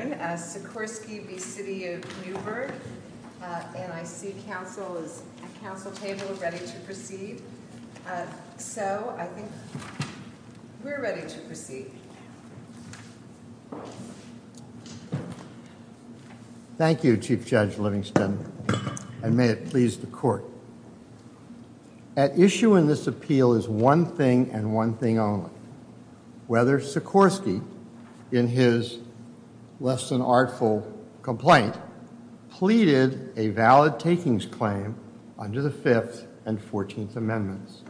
and I see council is at council table ready to proceed so I think we're ready to proceed. Thank You Chief Judge Livingston and may it please the court. At issue in this is one thing and one thing only whether Sikorsky in his less than artful complaint pleaded a valid takings claim under the fifth and fourteenth amendments.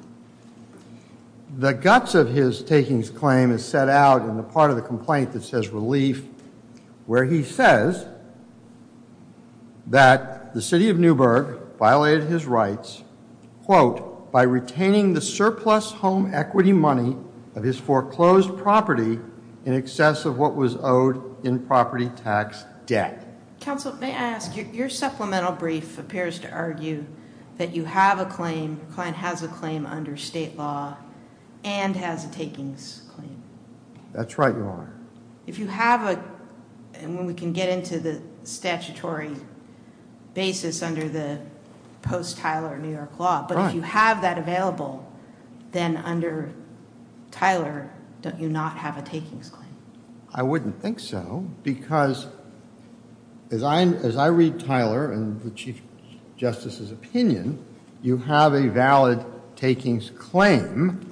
The guts of his takings claim is set out in the part of the complaint that says relief where he says that the City of Newburg violated his rights quote by retaining the surplus home equity money of his foreclosed property in excess of what was owed in property tax debt. Council may I ask your supplemental brief appears to argue that you have a claim client has a claim under state law and has a takings claim. That's right Your Honor. If you have a and when we can get into the statutory basis under the post Tyler New York law but if you have that available then under Tyler don't you not have a takings claim? I wouldn't think so because as I as I read Tyler and the Chief Justice's opinion you have a valid takings claim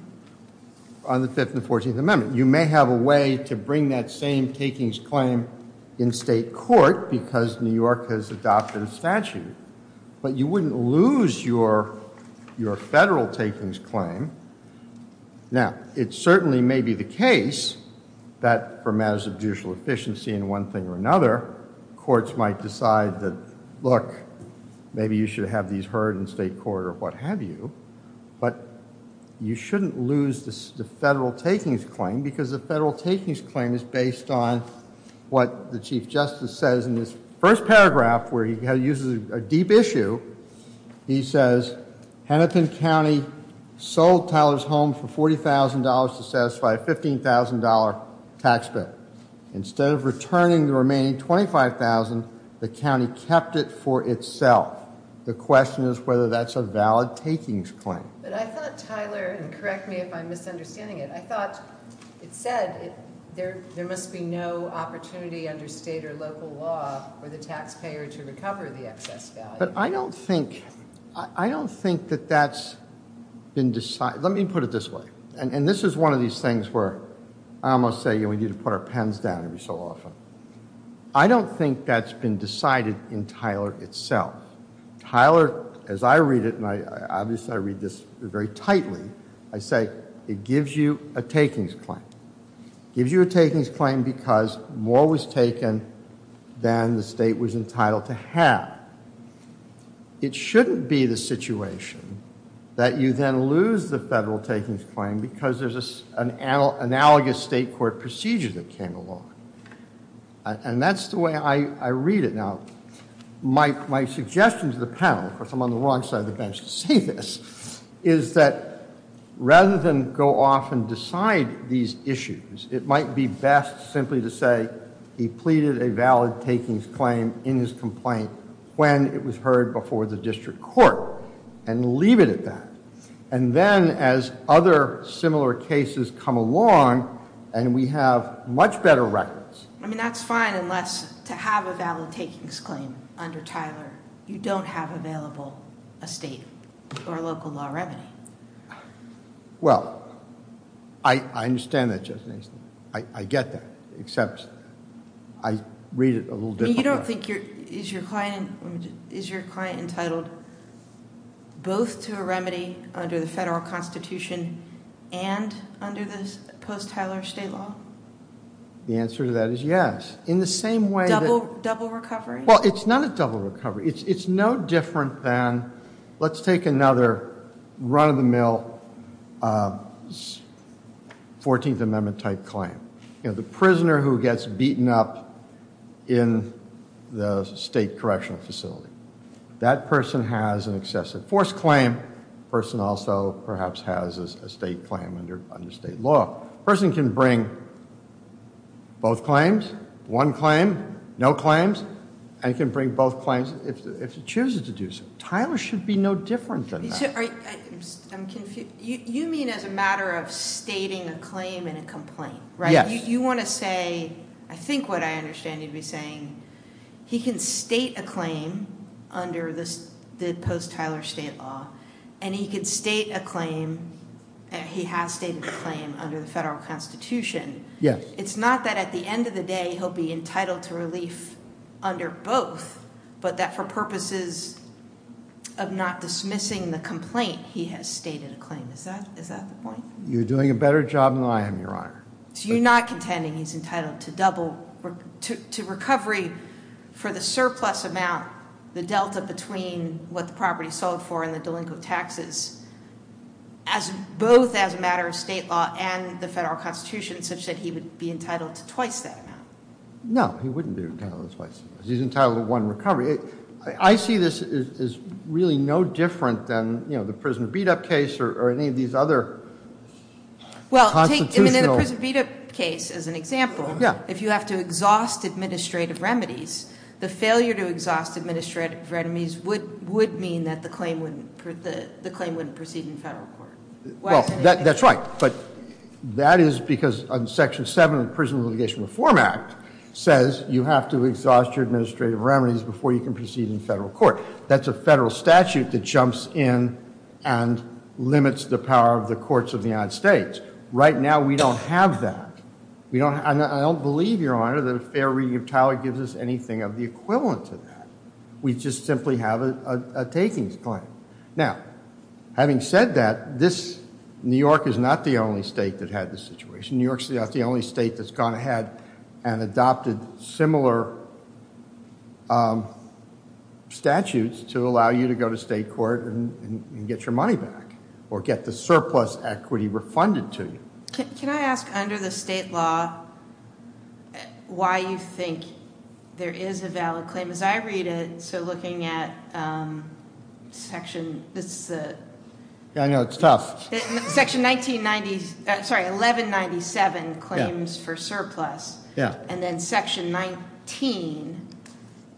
on the fifth and fourteenth amendment. You may have a way to bring that same takings claim in state court because New York has adopted a statute but you wouldn't lose your your federal takings claim. Now it certainly may be the case that for matters of judicial efficiency in one thing or another courts might decide that look maybe you should have these heard in state court or what have you but you shouldn't lose the federal takings claim because the federal takings claim is based on what the Chief Justice said. In his first paragraph where he uses a deep issue he says Hennepin County sold Tyler's home for $40,000 to satisfy a $15,000 tax bill. Instead of returning the remaining $25,000 the county kept it for itself. The question is whether that's a valid takings claim. But I thought Tyler, and correct me if I'm misunderstanding it, I thought it said there there must be no opportunity under state or local law for the taxpayer to recover the excess value. But I don't think I don't think that that's been decided let me put it this way and and this is one of these things where I almost say you know we need to put our pens down every so often. I don't think that's been decided in Tyler itself. Tyler as I read it and I obviously I read this very tightly I say it gives you a takings claim. Gives you a takings claim because more was taken than the state was entitled to have. It shouldn't be the situation that you then lose the federal takings claim because there's an analogous state court procedure that came along. And that's the way I read it. Now my suggestion to the panel, of course I'm on the wrong side of the bench to say this, is that rather than go off and decide these issues it might be best simply to say he pleaded a valid takings claim in his complaint when it was heard before the district court and leave it at that. And then as other similar cases come along and we have much better records. I mean that's fine unless to have a valid takings claim under Tyler you don't have available a state or local law remedy. Well I understand that just nicely. I get that except I read it a little bit. You don't think your is your client is your client entitled both to a remedy under the federal constitution and under this post Tyler state law? The answer to that is yes. In the same way. Double recovery. Well it's not a double recovery. It's no different than let's take another run-of-the-mill 14th Amendment type claim. You know the prisoner who gets beaten up in the state correctional facility. That person has an excessive force claim. Person also perhaps has a state claim under under state law. Person can bring both claims. One claim. No claims. And can bring both claims if he chooses to do so. Tyler should be no different than that. You mean as a matter of stating a claim in a complaint? Yes. You want to say I think what I understand you'd be saying he can state a claim under this the post Tyler state law and he could state a claim and he has stated a claim under the federal constitution. Yes. It's not that at the end of the day he'll be entitled to relief under both but that for purposes of not dismissing the complaint he has stated a claim. Is that is that the point? You're doing a better job than I am your honor. So you're not contending he's entitled to double to recovery for the surplus amount the Delta between what the property sold for and the delinquent taxes as both as a matter of state law and the federal constitution such that he would be entitled to twice that amount. No. He wouldn't be entitled to twice. He's entitled to one recovery. I see this is really no different than you know the prisoner beat-up case or any of these other constitutional. Well take the prisoner beat-up case as an example. Yeah. If you have to exhaust administrative remedies the failure to exhaust administrative remedies would would mean that the claim wouldn't proceed in federal court. Well that's right but that is because on section 7 of the Prison Litigation Reform Act says you have to exhaust your administrative remedies before you can proceed in federal court. That's a federal statute that jumps in and limits the power of the courts of the United States. Right now we don't have that. We don't and I don't believe your honor that a fair reading of Tyler gives us anything of the equivalent to that. We just simply have a takings claim. Now having said that this New York is not the only state that had this situation. New York's the only state that's gone ahead and adopted similar statutes to allow you to go to state court and get your money back or get the surplus equity refunded to you. Can I ask under the state law why you think there is a valid claim as I read it so looking at section this I know it's tough section 1990 sorry 1197 claims for surplus yeah and then section 19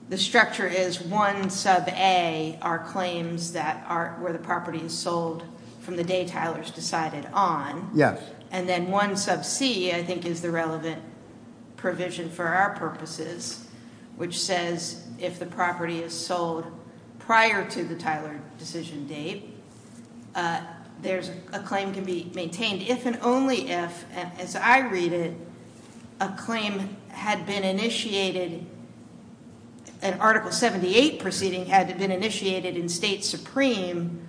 the structure is one sub a are claims that are where the property is sold from the day Tyler's decided on yes and then one sub C I think is the relevant provision for our purposes which says if the property is sold prior to the Tyler decision date there's a claim can be maintained if and only if as I read it a claim had been initiated an article 78 proceeding had been initiated in state supreme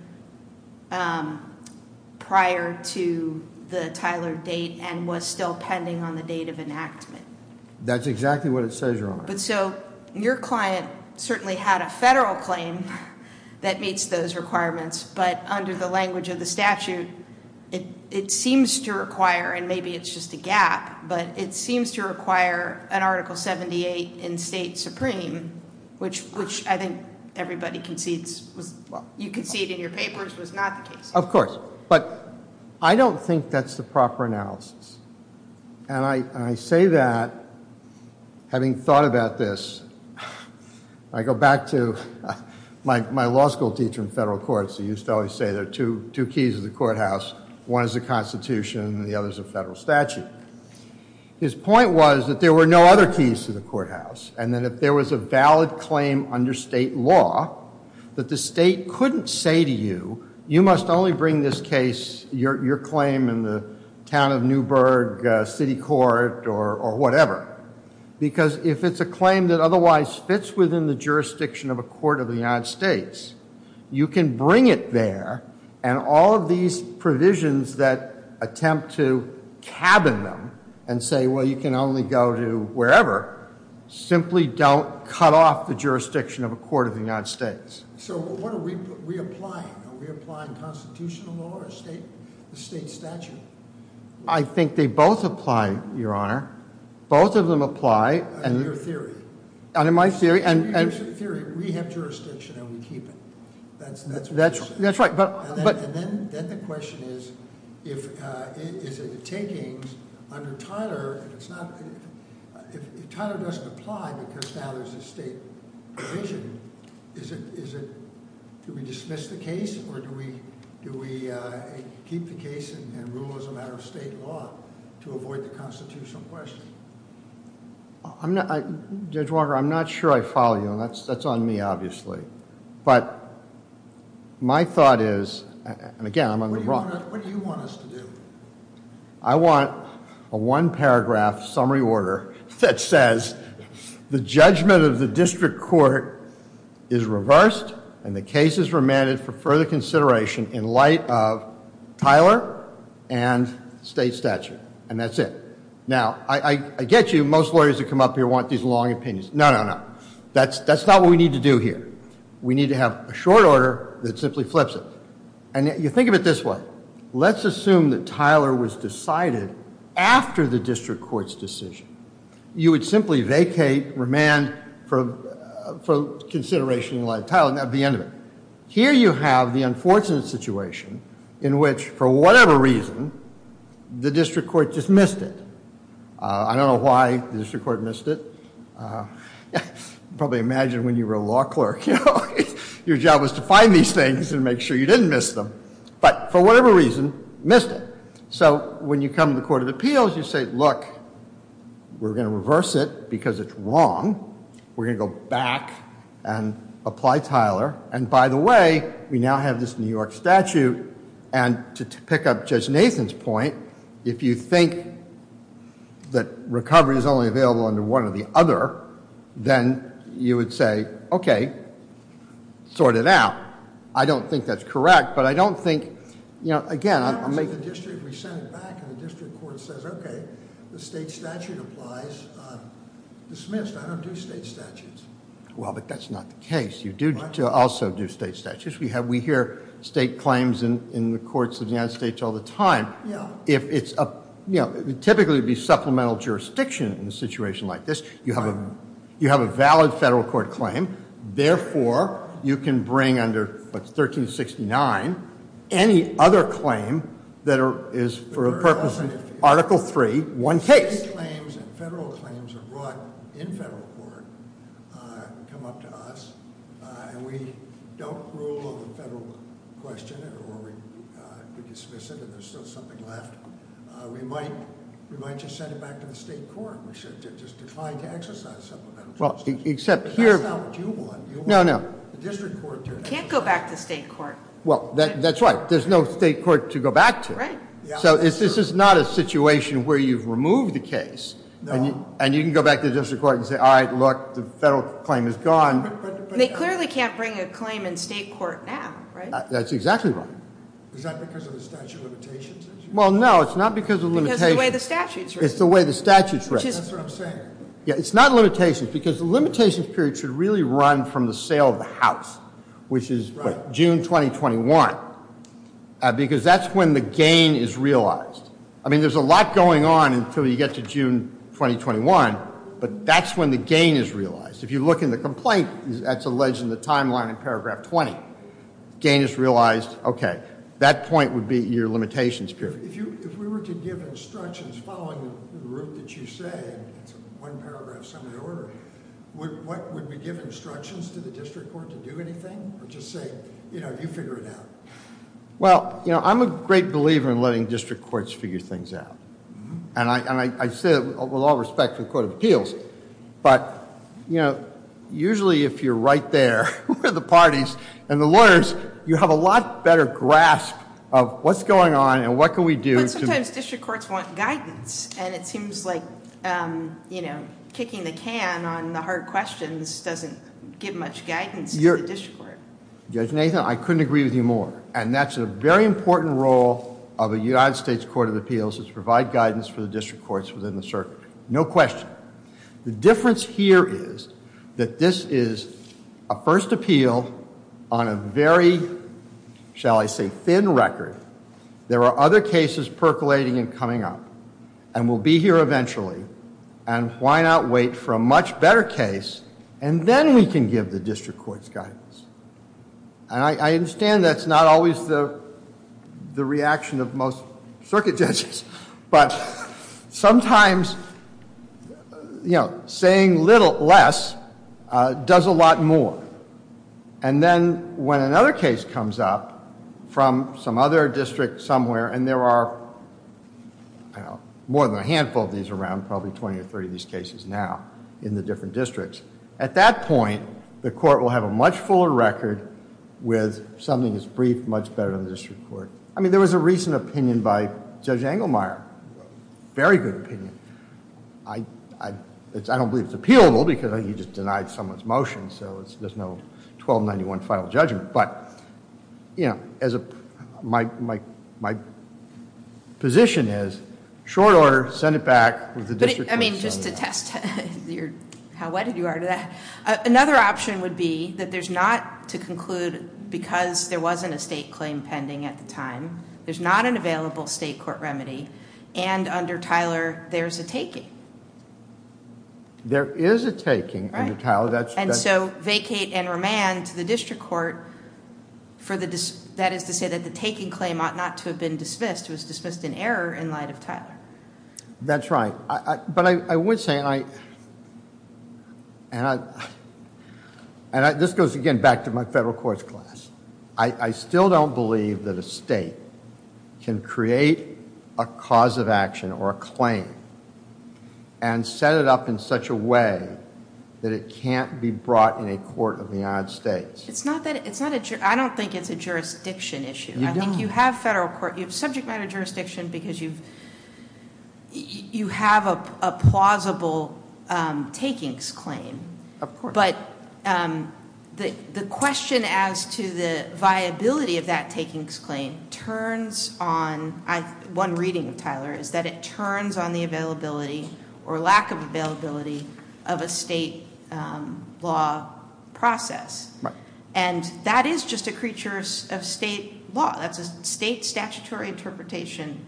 prior to the Tyler date and was still pending on the date of enactment that's exactly what it says your honor but so your client certainly had a federal claim that meets those requirements but under the language of the statute it seems to require and maybe it's just a gap but it seems to require an article 78 in state supreme which which I think everybody concedes you can see it in your papers was not the case of course but I don't think that's the proper analysis and I say that having thought about this I go back to my law school teacher in federal courts he used to always say there are two two keys of the courthouse one is a constitution and the other is a federal statute his point was that there were no other keys to the courthouse and then if there was a valid claim under state law that the state couldn't say to you you must only bring this case your claim in town of Newburgh City Court or whatever because if it's a claim that otherwise fits within the jurisdiction of a court of the United States you can bring it there and all of these provisions that attempt to cabin them and say well you can only go to wherever simply don't cut off the jurisdiction of a court of the I think they both apply your honor both of them apply and in my theory and rule as a matter of state law to avoid the constitutional question I'm not I judge Walker I'm not sure I follow you and that's that's on me obviously but my thought is and again I'm on the wrong I want a one paragraph summary order that says the judgment of the district court is reversed and the case is remanded for further consideration in light of Tyler and state statute and that's it now I get you most lawyers to come up here want these long opinions no no no that's that's not what we need to do here we need to have a short order that simply flips it and you think of it this way let's assume that Tyler was decided after the district courts decision you would simply vacate remand for consideration in light of Tyler and at the end of it here you have the unfortunate situation in which for whatever reason the district court just missed it I don't know why the district court missed it probably imagine when you were a law clerk you know your job was to find these things and make sure you didn't miss them but for whatever reason missed it so when you come to the court of appeals you say look we're going to reverse it because it's wrong we're back and apply Tyler and by the way we now have this New York statute and to pick up judge Nathan's point if you think that recovery is only available under one of the other then you would say okay sort it out I don't think that's correct but I don't think you know again well but that's not the case you do to also do state statutes we have we hear state claims and in the courts of the United States all the time yeah if it's a you know typically be supplemental jurisdiction in a situation like this you have a you have a valid federal court claim therefore you can bring under 1369 any other claim that is for a purpose in article 3-1 case well except here no no can't go back to state court well that's right there's no state court to go back to right so is this is not a situation where you've removed the case and you can go back to the district court and say all right look the federal claim is gone they clearly can't bring a claim in state court now that's exactly right well no it's not because of the way the statutes it's the way the statutes right yeah it's not limitations because the limitations period should really run from the sale of the house which is June 2021 because that's when the gain is realized I mean there's a lot going on until you get to June 2021 but that's when the gain is realized if you look in the complaint that's alleged in the timeline in paragraph 20 gain is realized okay that point would be your limitations period well you know I'm a great believer in letting district courts figure things out and I said with all respect to the Court of Appeals but you know usually if you're right there with the parties and the lawyers you have a lot better grasp of what's going on and what can we do sometimes district courts want guidance and it seems like you know kicking the can on the hard questions doesn't give much guidance your district court judge Nathan I couldn't agree with you more and that's a very important role of a United States Court of Appeals is to provide guidance for the district courts within the circuit no question the difference here is that this is a first appeal on a very shall I say thin record there are other cases percolating and coming up and we'll be here eventually and why not wait for a much better case and then we can give the district courts guidance and I understand that's not always the the reaction of most circuit judges but sometimes you know saying little less does a lot more and then when another case comes up from some other district somewhere and there are more than a handful of these around probably twenty or thirty these cases now in the different districts at that point the court will have a much fuller record with something as brief much better than the district court I mean there was a recent opinion by Judge Engelmeyer very good opinion I don't believe it's appealable because I you just denied someone's motion so it's no 1291 final judgment but you know as a my my my position is short order send it back with the district I mean just to test your how what did you are to that another option would be that there's not to conclude because there wasn't a state claim pending at the time there's not an available state court remedy and under Tyler there's a taking there is a taking and how that's and so vacate and remand to the district court for the dis that is to say that the taking claim ought not to have been dismissed was dismissed in error in light of Tyler that's right but I would say I and I and I this goes again back to my federal courts class I still don't believe that a state can create a cause of action or claim and set it up in such a way that it can't be brought in a court of the United States it's not that it's not a trip I don't think it's a jurisdiction issue I think you have federal court you have subject matter jurisdiction because you've you have a plausible takings claim of course but the the question as to the viability of that takings claim turns on I one reading of Tyler is that it turns on the availability or lack of availability of a state law process and that is just a creatures of state law that's a state statutory interpretation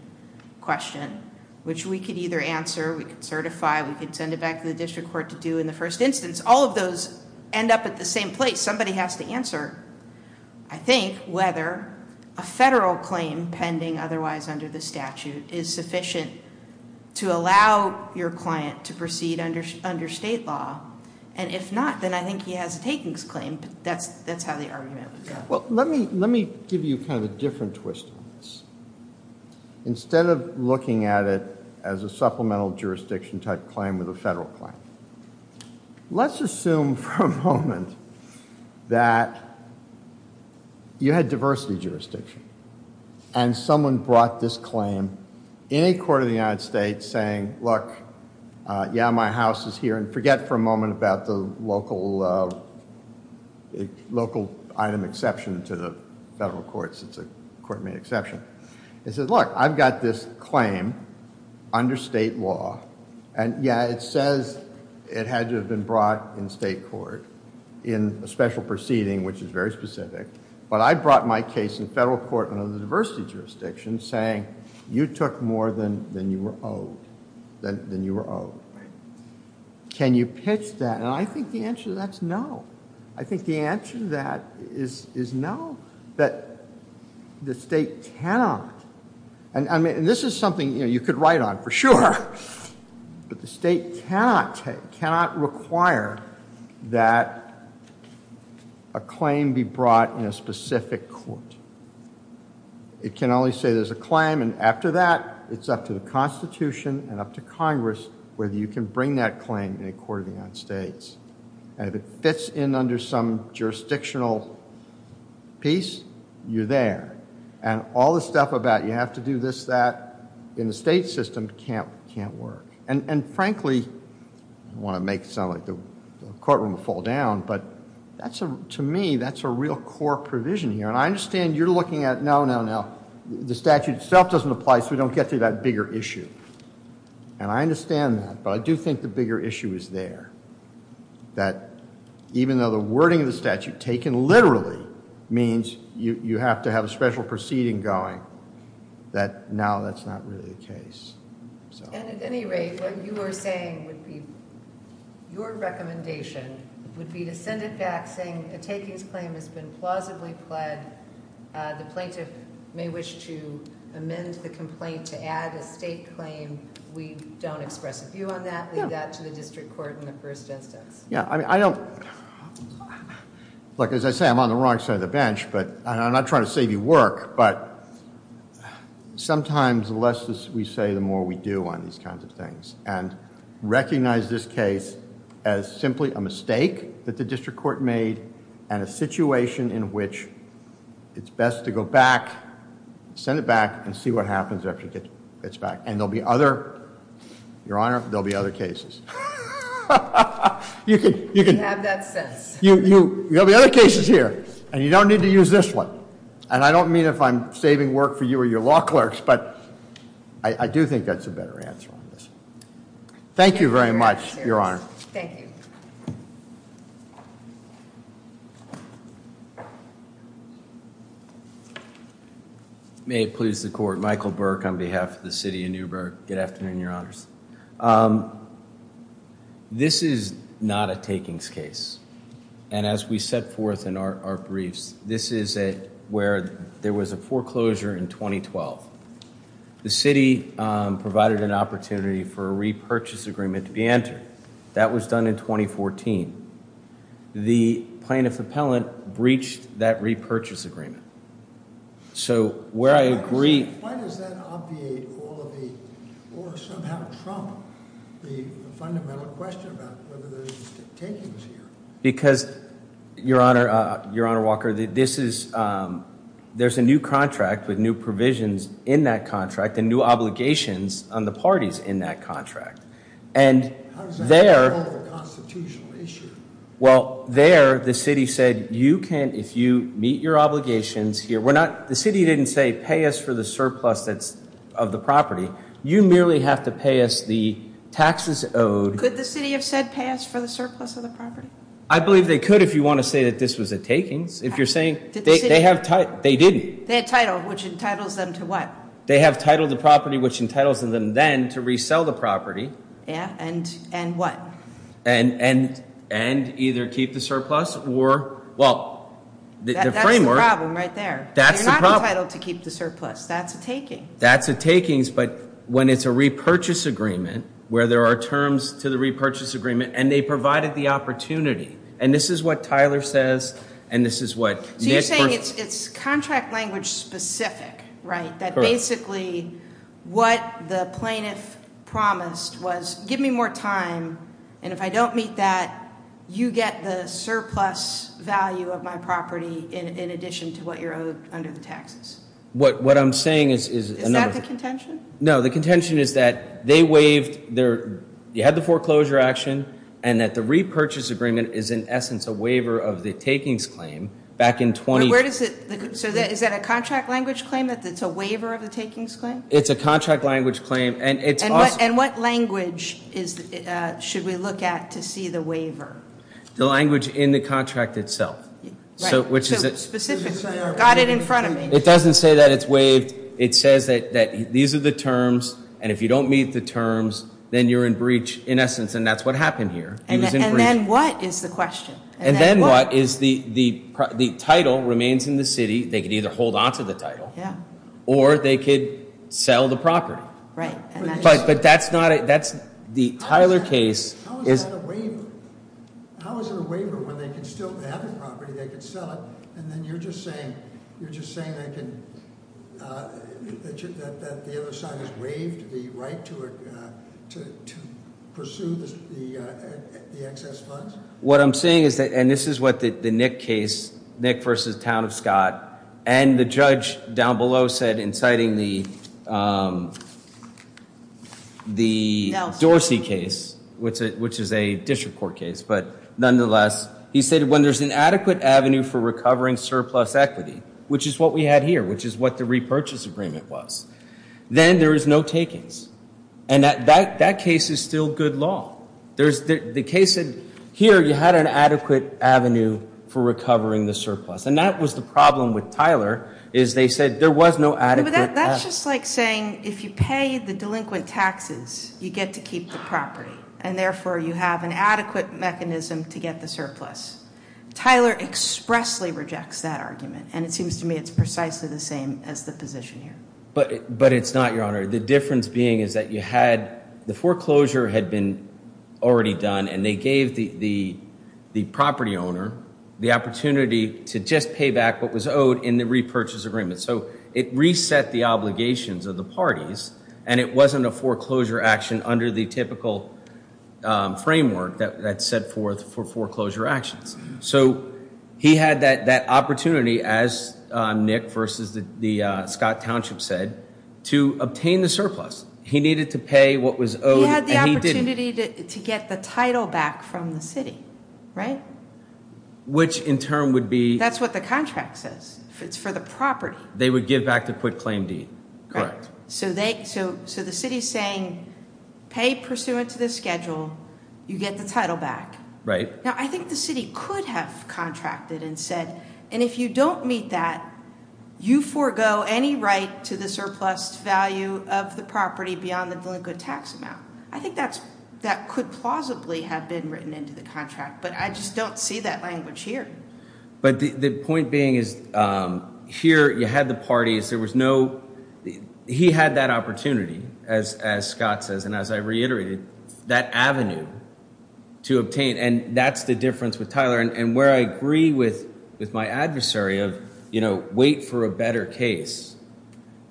question which we could either answer we could certify we could send it back to the district court to do in the first instance all of those end up at the same place somebody has to answer I think whether a federal claim pending otherwise under the statute is sufficient to allow your client to proceed under under state law and if not then I think he has a takings claim that's that's how the argument well let me let me give you kind of different twist instead of looking at it as a supplemental jurisdiction type claim with a federal claim let's assume for a moment that you had diversity jurisdiction and someone brought this claim in a court of the United States saying look yeah my house is here and forget for a moment about the local local item exception to the federal courts it's a court made exception it says look I've got this claim under state law and yeah it says it had to have been brought in state court in a special proceeding which is very specific but I brought my case in federal court under the diversity jurisdiction saying you took more than than you were owed than you were owed can you pitch that and I think the answer that's no I think the answer to that is is no that the state cannot and I mean this is something you know you could write on for sure but the state cannot take cannot require that a claim be brought in a specific court it can only say there's a claim and after that it's up to the Constitution and up to Congress whether you can bring that claim in a court of the United States and if it fits in under some jurisdictional piece you're there and all the stuff about you have to do this that in the state system can't can't work and and frankly I want to make the courtroom fall down but that's a to me that's a real core provision here and I understand you're looking at no no no the statute itself doesn't apply so we don't get to that bigger issue and I understand that but I do think the bigger issue is there that even though the wording of the statute taken literally means you have to have a special proceeding going that now that's really the case your recommendation would be to send it back saying the takings claim has been plausibly pled the plaintiff may wish to amend the complaint to add a state claim we don't express a view on that that to the district court in the first instance yeah I mean I don't look as I say I'm on the wrong side of the bench but I'm not trying to save you work but sometimes the less we say the more we do on these kinds of things and recognize this case as simply a mistake that the district court made and a situation in which it's best to go back send it back and see what happens after it gets back and there'll be other your honor there'll be other cases you can you can have that sense you you know the other cases here and you don't need to use this one and I mean if I'm saving work for you or your law clerks but I do think that's a better answer on this thank you very much your honor may it please the court Michael Burke on behalf of the city of Newburgh good afternoon your honors this is not a takings case and as we set forth in our briefs this is a where there was a foreclosure in 2012 the city provided an opportunity for a repurchase agreement to be entered that was done in 2014 the plaintiff appellant breached that repurchase agreement so where I agree because your honor your honor Walker this is there's a new contract with new provisions in that contract and new obligations on the parties in that contract and there well there the city said you can if you meet your obligations here we're not the city didn't say pay us for the surplus that's of the property you merely have to pay us the taxes owed could the city have said pass for the surplus of the property I believe they could if you want to say that this was a takings if you're saying they have time they didn't they title which entitles them to what they have titled the property which entitles them then to resell the property yeah and and what and and and either keep the surplus or well the framework right there that's the title to keep the surplus that's a taking that's a takings but when it's a repurchase agreement where there are terms to the repurchase agreement and they provided the opportunity and this is what Tyler says and this is what you're saying it's contract language specific right that basically what the plaintiff promised was give me more time and if I don't meet that you get the surplus value of my property in addition to what you're owed under the taxes what what I'm saying is no the contention is that they waived there you had the foreclosure action and that the repurchase agreement is in essence a waiver of the takings claim back in 20 where does it so that is that a contract language claim that that's a waiver of the takings claim it's a contract language claim and it's not and what language is should we look at to see the waiver the language in the contract itself so which is it in front of me it doesn't say that it's waived it says that that these are the terms and if you don't meet the terms then you're in breach in essence and that's what happened here and then what is the question and then what is the the the title remains in the city they could either hold on to the title yeah or they could sell the property but but that's not it that's the Tyler case what I'm saying is that and this is what the Nick case Nick versus town of Scott and the judge down below said inciting the the Dorsey case which it which is a district court case but nonetheless he said when there's an adequate Avenue for recovering surplus equity which is what we had here which is what the repurchase agreement was then there is no takings and that that that case is still good law there's the case in here you had an adequate Avenue for recovering the and that was the problem with Tyler is they said there was no adequate that's just like saying if you pay the delinquent taxes you get to keep the property and therefore you have an adequate mechanism to get the surplus Tyler expressly rejects that argument and it seems to me it's precisely the same as the position here but but it's not your honor the difference being is that you had the foreclosure had been already done and they gave the the the owner the opportunity to just pay back what was owed in the repurchase agreement so it reset the obligations of the parties and it wasn't a foreclosure action under the typical framework that set forth for foreclosure actions so he had that that opportunity as Nick versus the Scott Township said to obtain the surplus he needed to pay what was owed to get the title back from the city right which in turn would be that's what the contract says it's for the property they would give back to quit claim deed correct so they so so the city's saying pay pursuant to the schedule you get the title back right now I think the city could have contracted and said and if you don't meet that you forego any right to the surplus value of the property beyond the delinquent tax amount I think that's that could plausibly have been written into the contract but I just don't see that language here but the point being is here you had the parties there was no he had that opportunity as Scott says and as I reiterated that Avenue to obtain and that's the difference with Tyler and where I agree with with my adversary of you know wait for a better case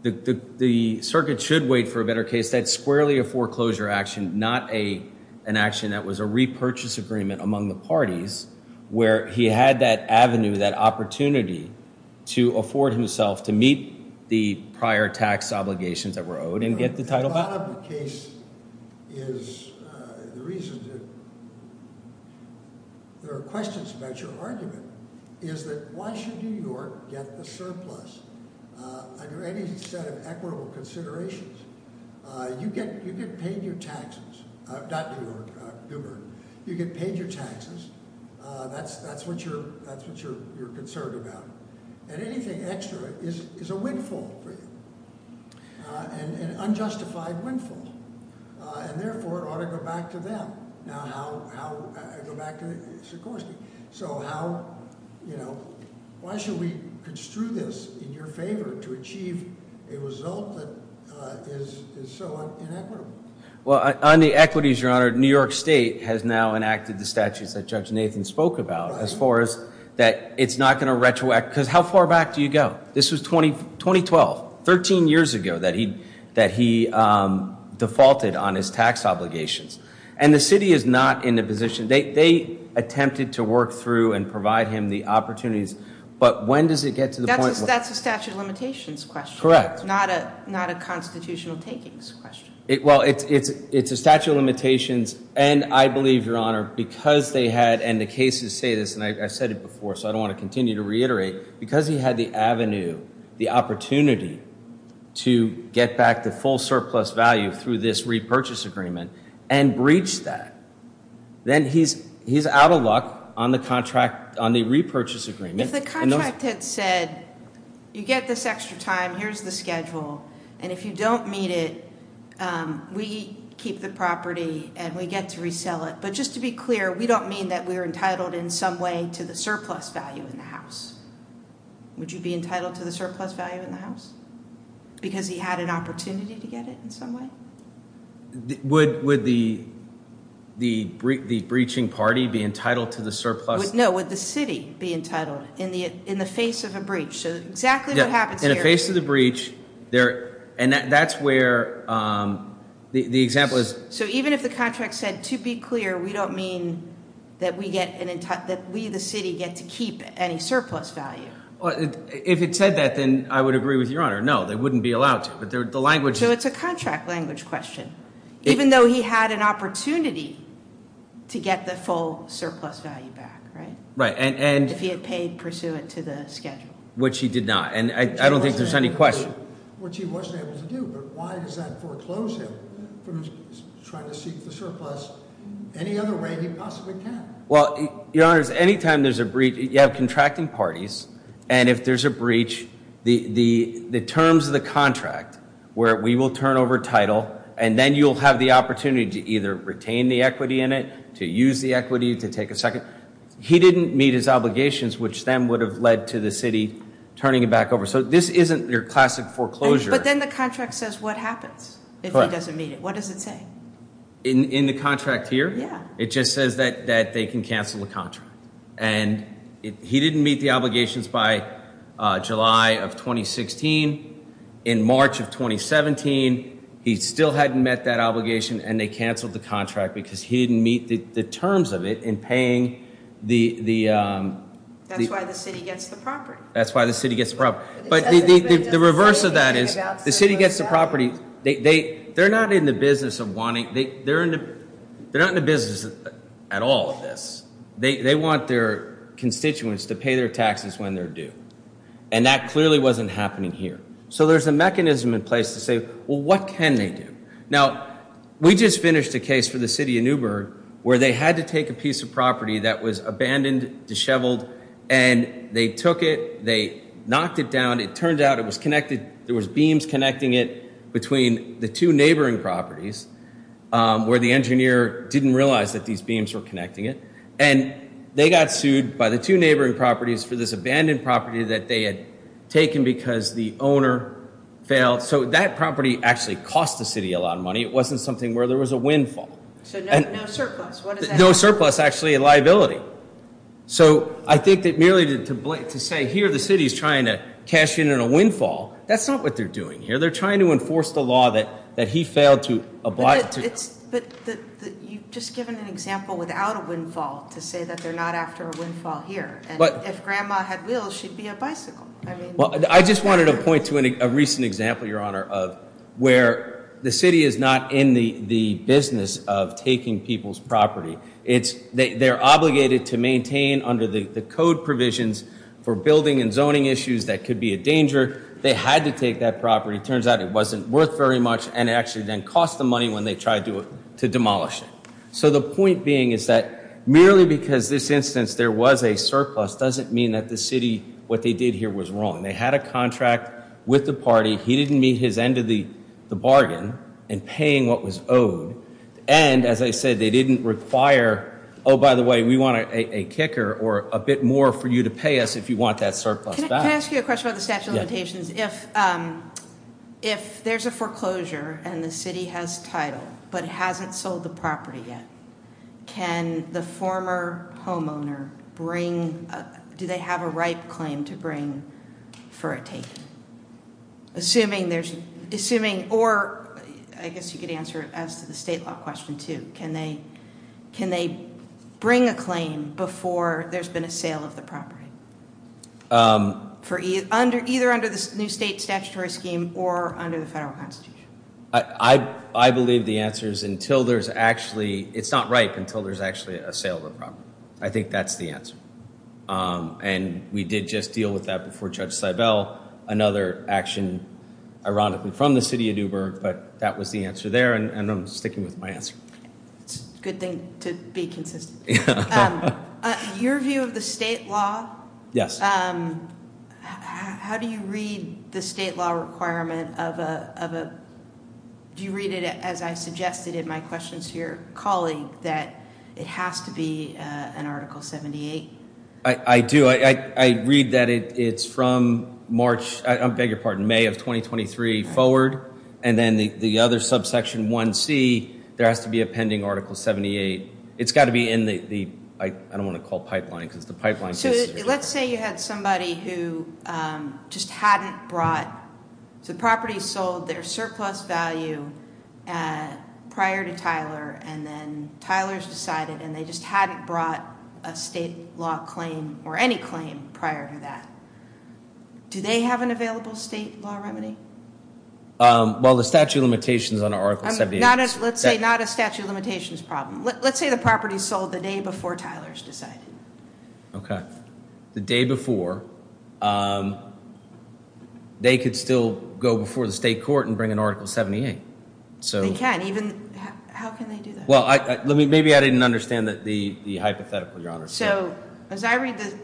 the the circuit should wait for a better case that's squarely a foreclosure action not a an action that was a repurchase agreement among the parties where he had that Avenue that opportunity to afford himself to meet the prior tax obligations that were owed and get the title there are questions about your argument is that why should New York get the taxes you get paid your taxes that's that's what you're that's what you're you're concerned about and anything extra is is a windfall and unjustified windfall and therefore ought to go back to them now how I go back to Sikorsky so how you know why should we construe this in your favor to achieve a result that so well on the equities your honor New York State has now enacted the statutes that judge Nathan spoke about as far as that it's not going to retroact because how far back do you go this was 20 2012 13 years ago that he that he defaulted on his tax obligations and the city is not in a position they attempted to work through and provide him the opportunities but when does it get to that's a statute of limitations question correct not a not a constitutional takings question it well it's it's it's a statute of limitations and I believe your honor because they had and the cases say this and I said it before so I don't want to continue to reiterate because he had the Avenue the opportunity to get back the full surplus value through this repurchase agreement and breach that then he's he's out of luck on the contract on the repurchase agreement said you get this extra time here's the schedule and if you don't mean it we keep the property and we get to resell it but just to be clear we don't mean that we were entitled in some way to the surplus value in the house would you be entitled to the surplus value in the house because he had an opportunity to get it in some way would would the the the breaching party be to the surplus no with the city be entitled in the in the face of a breach so exactly what happens in a face of the breach there and that's where the example is so even if the contract said to be clear we don't mean that we get an entire that we the city get to keep any surplus value well if it said that then I would agree with your honor no they wouldn't be allowed to but they're the language so it's a contract language question even though he had an opportunity to get the full surplus value back right right and and if he had paid pursuant to the schedule which he did not and I don't think there's any question well your honors anytime there's a breach you have contracting parties and if there's a breach the the the terms of the contract where we will turn over and then you'll have the opportunity to either retain the equity in it to use the equity to take a second he didn't meet his obligations which then would have led to the city turning it back over so this isn't your classic foreclosure but then the contract says what happens what does it say in the contract here yeah it just says that that they can cancel the contract and he still hadn't met that obligation and they canceled the contract because he didn't meet the terms of it in paying the the that's why the city gets the property that's why the city gets proper but the reverse of that is the city gets the property they they they're not in the business of wanting they they're in they're not in the business at all of this they want their constituents to pay their taxes when they're due and that clearly wasn't happening here so there's a mechanism in place to say well what can they do now we just finished a case for the city of Newburgh where they had to take a piece of property that was abandoned disheveled and they took it they knocked it down it turned out it was connected there was beams connecting it between the two neighboring properties where the engineer didn't realize that these beams were connecting it and they got sued by the two neighboring properties for this property that they had taken because the owner failed so that property actually cost the city a lot of money it wasn't something where there was a windfall no surplus actually a liability so I think that merely did to Blake to say here the city is trying to cash in in a windfall that's not what they're doing here they're trying to enforce the law that that he failed to apply it's just given an example without a windfall to say that they're not after but if grandma had wheels she'd be a bicycle well I just wanted to point to a recent example your honor of where the city is not in the the business of taking people's property it's they're obligated to maintain under the code provisions for building and zoning issues that could be a danger they had to take that property turns out it wasn't worth very much and actually then cost the money when they tried to do it to demolish it so the point being is that merely because this instance there was a surplus doesn't mean that the city what they did here was wrong they had a contract with the party he didn't meet his end of the the bargain and paying what was owed and as I said they didn't require oh by the way we want a kicker or a bit more for you to pay us if you want that surplus if if there's a foreclosure and the city has title but hasn't sold the property yet can the former homeowner bring do they have a right claim to bring for a tape assuming there's assuming or I guess you could answer it as to the state law question to can they can they bring a claim before there's been a sale of the property for either under either under this new state statutory scheme or under the federal constitution I I believe the answer is until there's actually it's not right until there's actually a sale of the property I think that's the answer and we did just deal with that before judge Seibel another action ironically from the city of Newburgh but that was the answer there and I'm sticking with my answer good thing to be consistent your view of the state law yes how do you read the state law requirement of a do you read it as I suggested in my questions to your colleague that it has to be an article 78 I do I read that it's from March I beg your pardon May of 2023 forward and then the other subsection 1 C there has to be a pending article 78 it's got to be in the I don't want to call pipeline because the pipeline so let's say you had somebody who just hadn't brought the property sold their surplus value prior to Tyler and then Tyler's decided and they just hadn't brought a state law claim or any claim prior to that do they have an available state law remedy well the statute of limitations on our service not as let's say not a statute of limitations problem let's say the property sold the day before Tyler's decided okay the day before they could still go before the state court and bring an article 78 so again even well I let me maybe I didn't understand that the hypothetical your honor so as I read the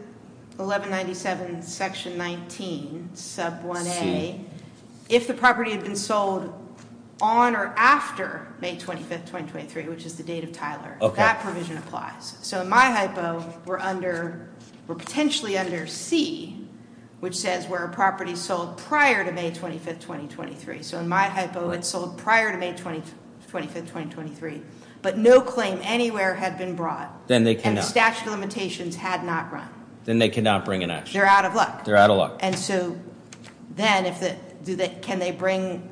1197 section 19 sub 1a if the property had been sold on or after May 25th 2023 which is the date of Tyler okay that provision applies so in my hypo we're under we're potentially under C which says where a property sold prior to May 25th 2023 so in my hypo it sold prior to May 20 25th 2023 but no claim anywhere had been brought then they can the statute of limitations had not run then they cannot bring an ash they're out of luck they're out of luck and so then if that do that can they bring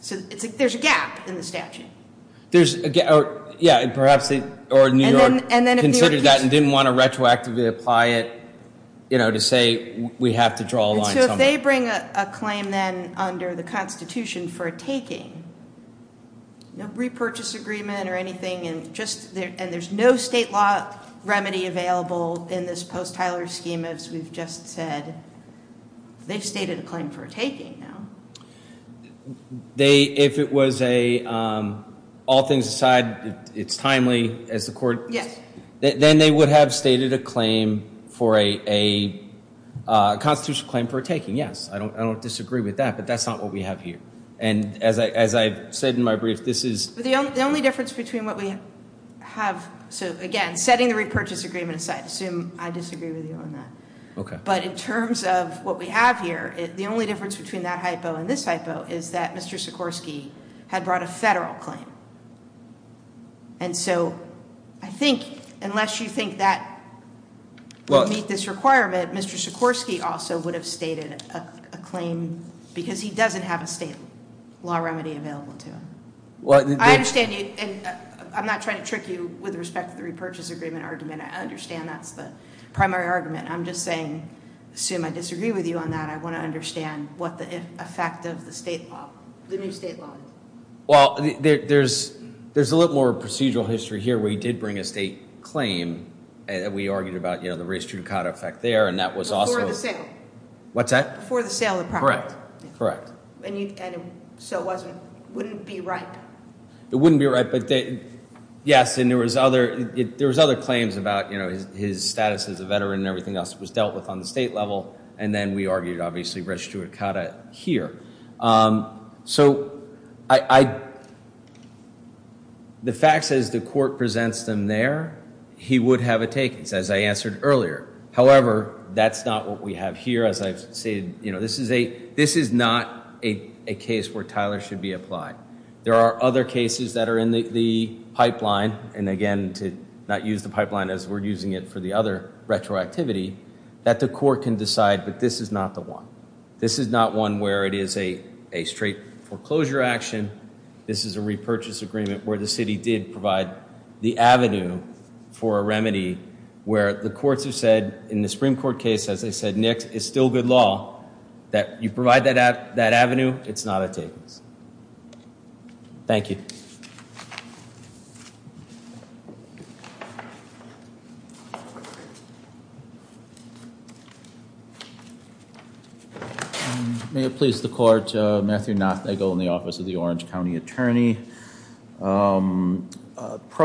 so it's like there's a gap in the statute there's a gap yeah and perhaps they or in New York and then it considered that and didn't want to retroactively apply it you know to say we have to draw a line so if they bring a claim then under the Constitution for a taking no repurchase agreement or anything and just there and there's no state law remedy available in this post Tyler schemas we've just said they've stated a claim for taking now they if it was a all things aside it's timely as the court yes then they would have stated a claim for a constitutional claim for taking yes I don't I don't disagree with that but that's not what we have here and as I as I said in my brief this is the only difference between what we have so again setting the repurchase agreement aside assume I disagree with you on that okay but in terms of what we have here the only difference between that hypo and this hypo is that mr. Sikorsky had brought a federal claim and so I think unless you think that well meet this requirement mr. Sikorsky also would have stated a claim because he doesn't have a state law remedy well I understand you and I'm not trying to trick you with respect to the repurchase agreement argument I understand that's the primary argument I'm just saying assume I disagree with you on that I want to understand what the effect of the state law well there's there's a little more procedural history here we did bring a state claim and we argued about you know the race to cut effect there and that was awesome what's that for the sale of correct correct it wouldn't be right but they yes and there was other it there was other claims about you know his status as a veteran and everything else was dealt with on the state level and then we argued obviously registered to cut it here so I the fact says the court presents them there he would have a earlier however that's not what we have here as I've said you know this is a this is not a case where Tyler should be applied there are other cases that are in the pipeline and again to not use the pipeline as we're using it for the other retroactivity that the court can decide but this is not the one this is not one where it is a a straight foreclosure action this is a repurchase agreement where the city did provide the Avenue for a remedy where the courts have said in the Supreme Court case as they said Nick is still good law that you provide that at that Avenue it's not a tables thank you may it please the court Matthew not they go in the office of the Orange County attorney pro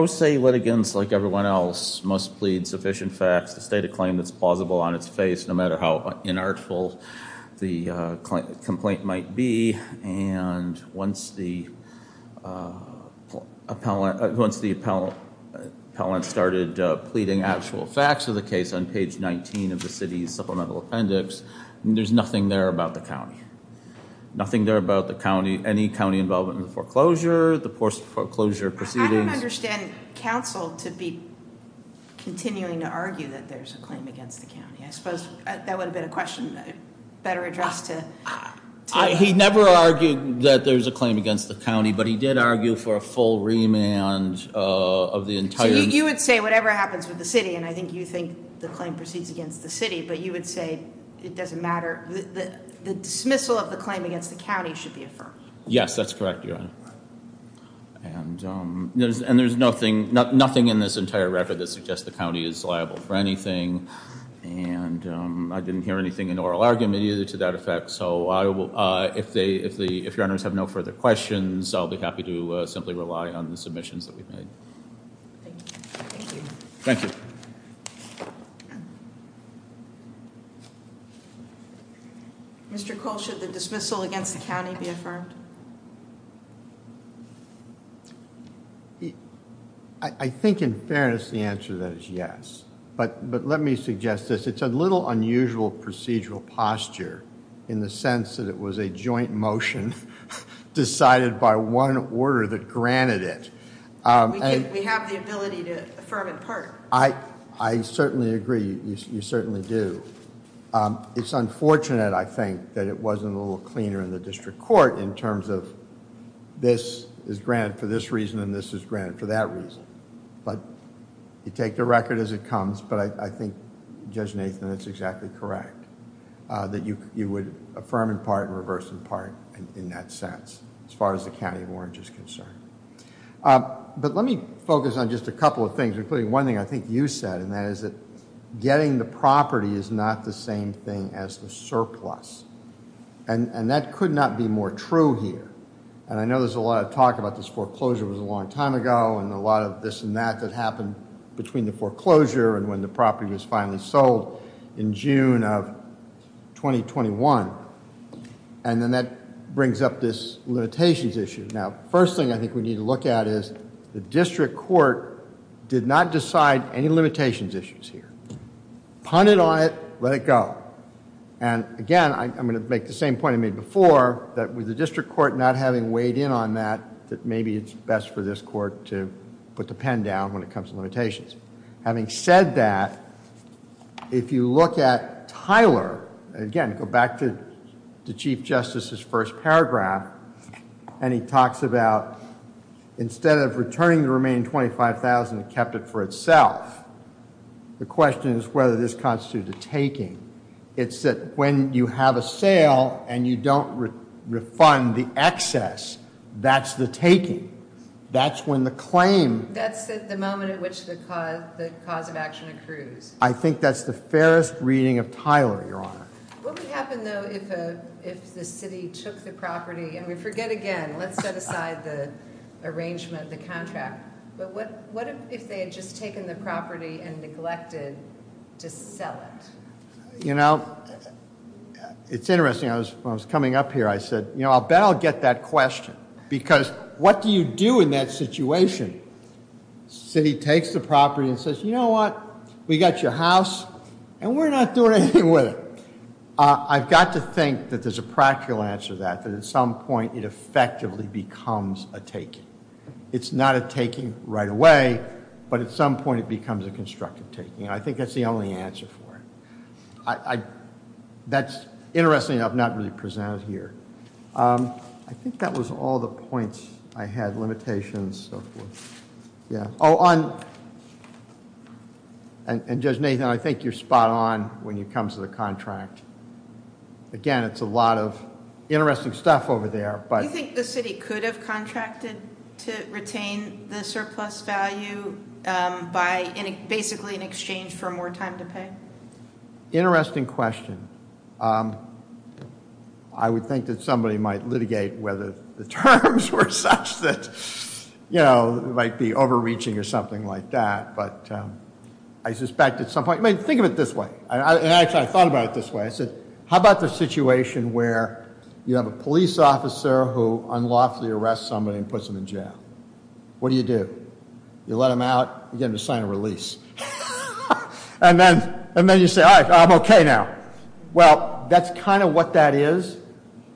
se litigants like everyone else must plead sufficient facts the state of claim that's plausible on its face no matter how inartful the complaint might be and once the appellant once the appellant started pleading actual facts of the case on page 19 of the city's supplemental appendix there's nothing there about the county nothing there about the county any county involvement foreclosure the course foreclosure proceedings counsel to be continuing to argue that there's a claim against the county I suppose that would have been a question better address to he never argued that there's a claim against the county but he did argue for a full remand of the entire you would say whatever happens with the city and I think you think the claim proceeds against the city but you would say it doesn't matter the dismissal of the yes that's correct yeah and there's and there's nothing not nothing in this entire record that suggests the county is liable for anything and I didn't hear anything in oral argument either to that effect so I will if they if the if runners have no further questions I'll be happy to simply rely on the submissions that we've made thank you I think in fairness the answer that is yes but but let me suggest this it's a little unusual procedural posture in the sense that it was a joint motion decided by one order that granted it I I certainly agree you certainly do it's unfortunate I think that it wasn't a little cleaner in the district court in terms of this is granted for this reason and this is granted for that reason but you take the record as it comes but I think judge Nathan it's exactly correct that you you would affirm in part and reverse in part and in that sense as far as the county of orange is concerned but let me focus on just a couple of things including one thing I think you said and that is that getting the property is not the same thing as the surplus and and that could not be more true here and I know there's a lot of talk about this foreclosure was a long time ago and a lot of this and that that happened between the foreclosure and when the was finally sold in June of 2021 and then that brings up this limitations issue now first thing I think we need to look at is the district court did not decide any limitations issues here punted on it let it go and again I'm going to make the same point I made before that with the district court not having weighed in on that that maybe it's best for this court to put the pen down when it comes to limitations having said that if you look at Tyler again go back to the Chief Justice's first paragraph and he talks about instead of returning the remaining 25,000 kept it for itself the question is whether this constitutes a taking it's that when you have a sale and you don't refund the excess that's the taking that's when the claim that's the moment at which the cause the cause of action accrues I think that's the fairest reading of Tyler your honor if the city took the property and we forget again let's set aside the arrangement the contract but what what if they had just taken the property and neglected to sell it you know it's interesting I was coming up here I said you know I'll bet I'll get that question because what do you do in that situation city takes the property and says you know what we got your house and we're not doing anything with it I've got to think that there's a practical answer that that at some point it effectively becomes a taking it's not a taking right away but at some point it becomes a constructive taking I think that's the only answer for it I that's interesting enough not really presented here I think that was all the points I had limitations yeah oh on and judge Nathan I think you're spot-on when it comes to the contract again it's a lot of interesting stuff over there but I think the city could have contracted to retain the surplus value by any basically in exchange for more time to pay interesting question I would think that somebody might litigate whether the terms were such that you know it might be overreaching or something like that but I suspected some point maybe think of it this way I actually I thought about it this way I said how about the situation where you have a police officer who unlawfully arrest somebody and puts them in jail what do you do you let them out you get to sign a release and then and then you say I'm okay now well that's kind of what that is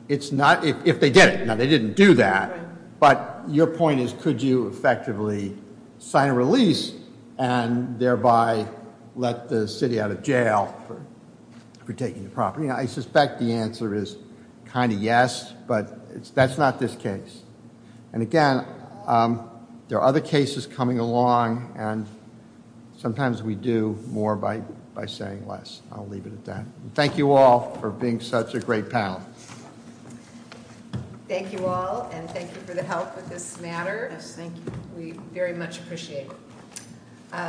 it's not if they did it now they didn't do that but your point is could you effectively sign a release and thereby let the city out of jail for taking the property I suspect the answer is kind of yes but it's that's not this case and again there are other cases coming along and sometimes we do more by by saying less I'll leave it at that thank you all for being such a great panel thank you all and thank you for the help with this matter thank you we very much appreciate it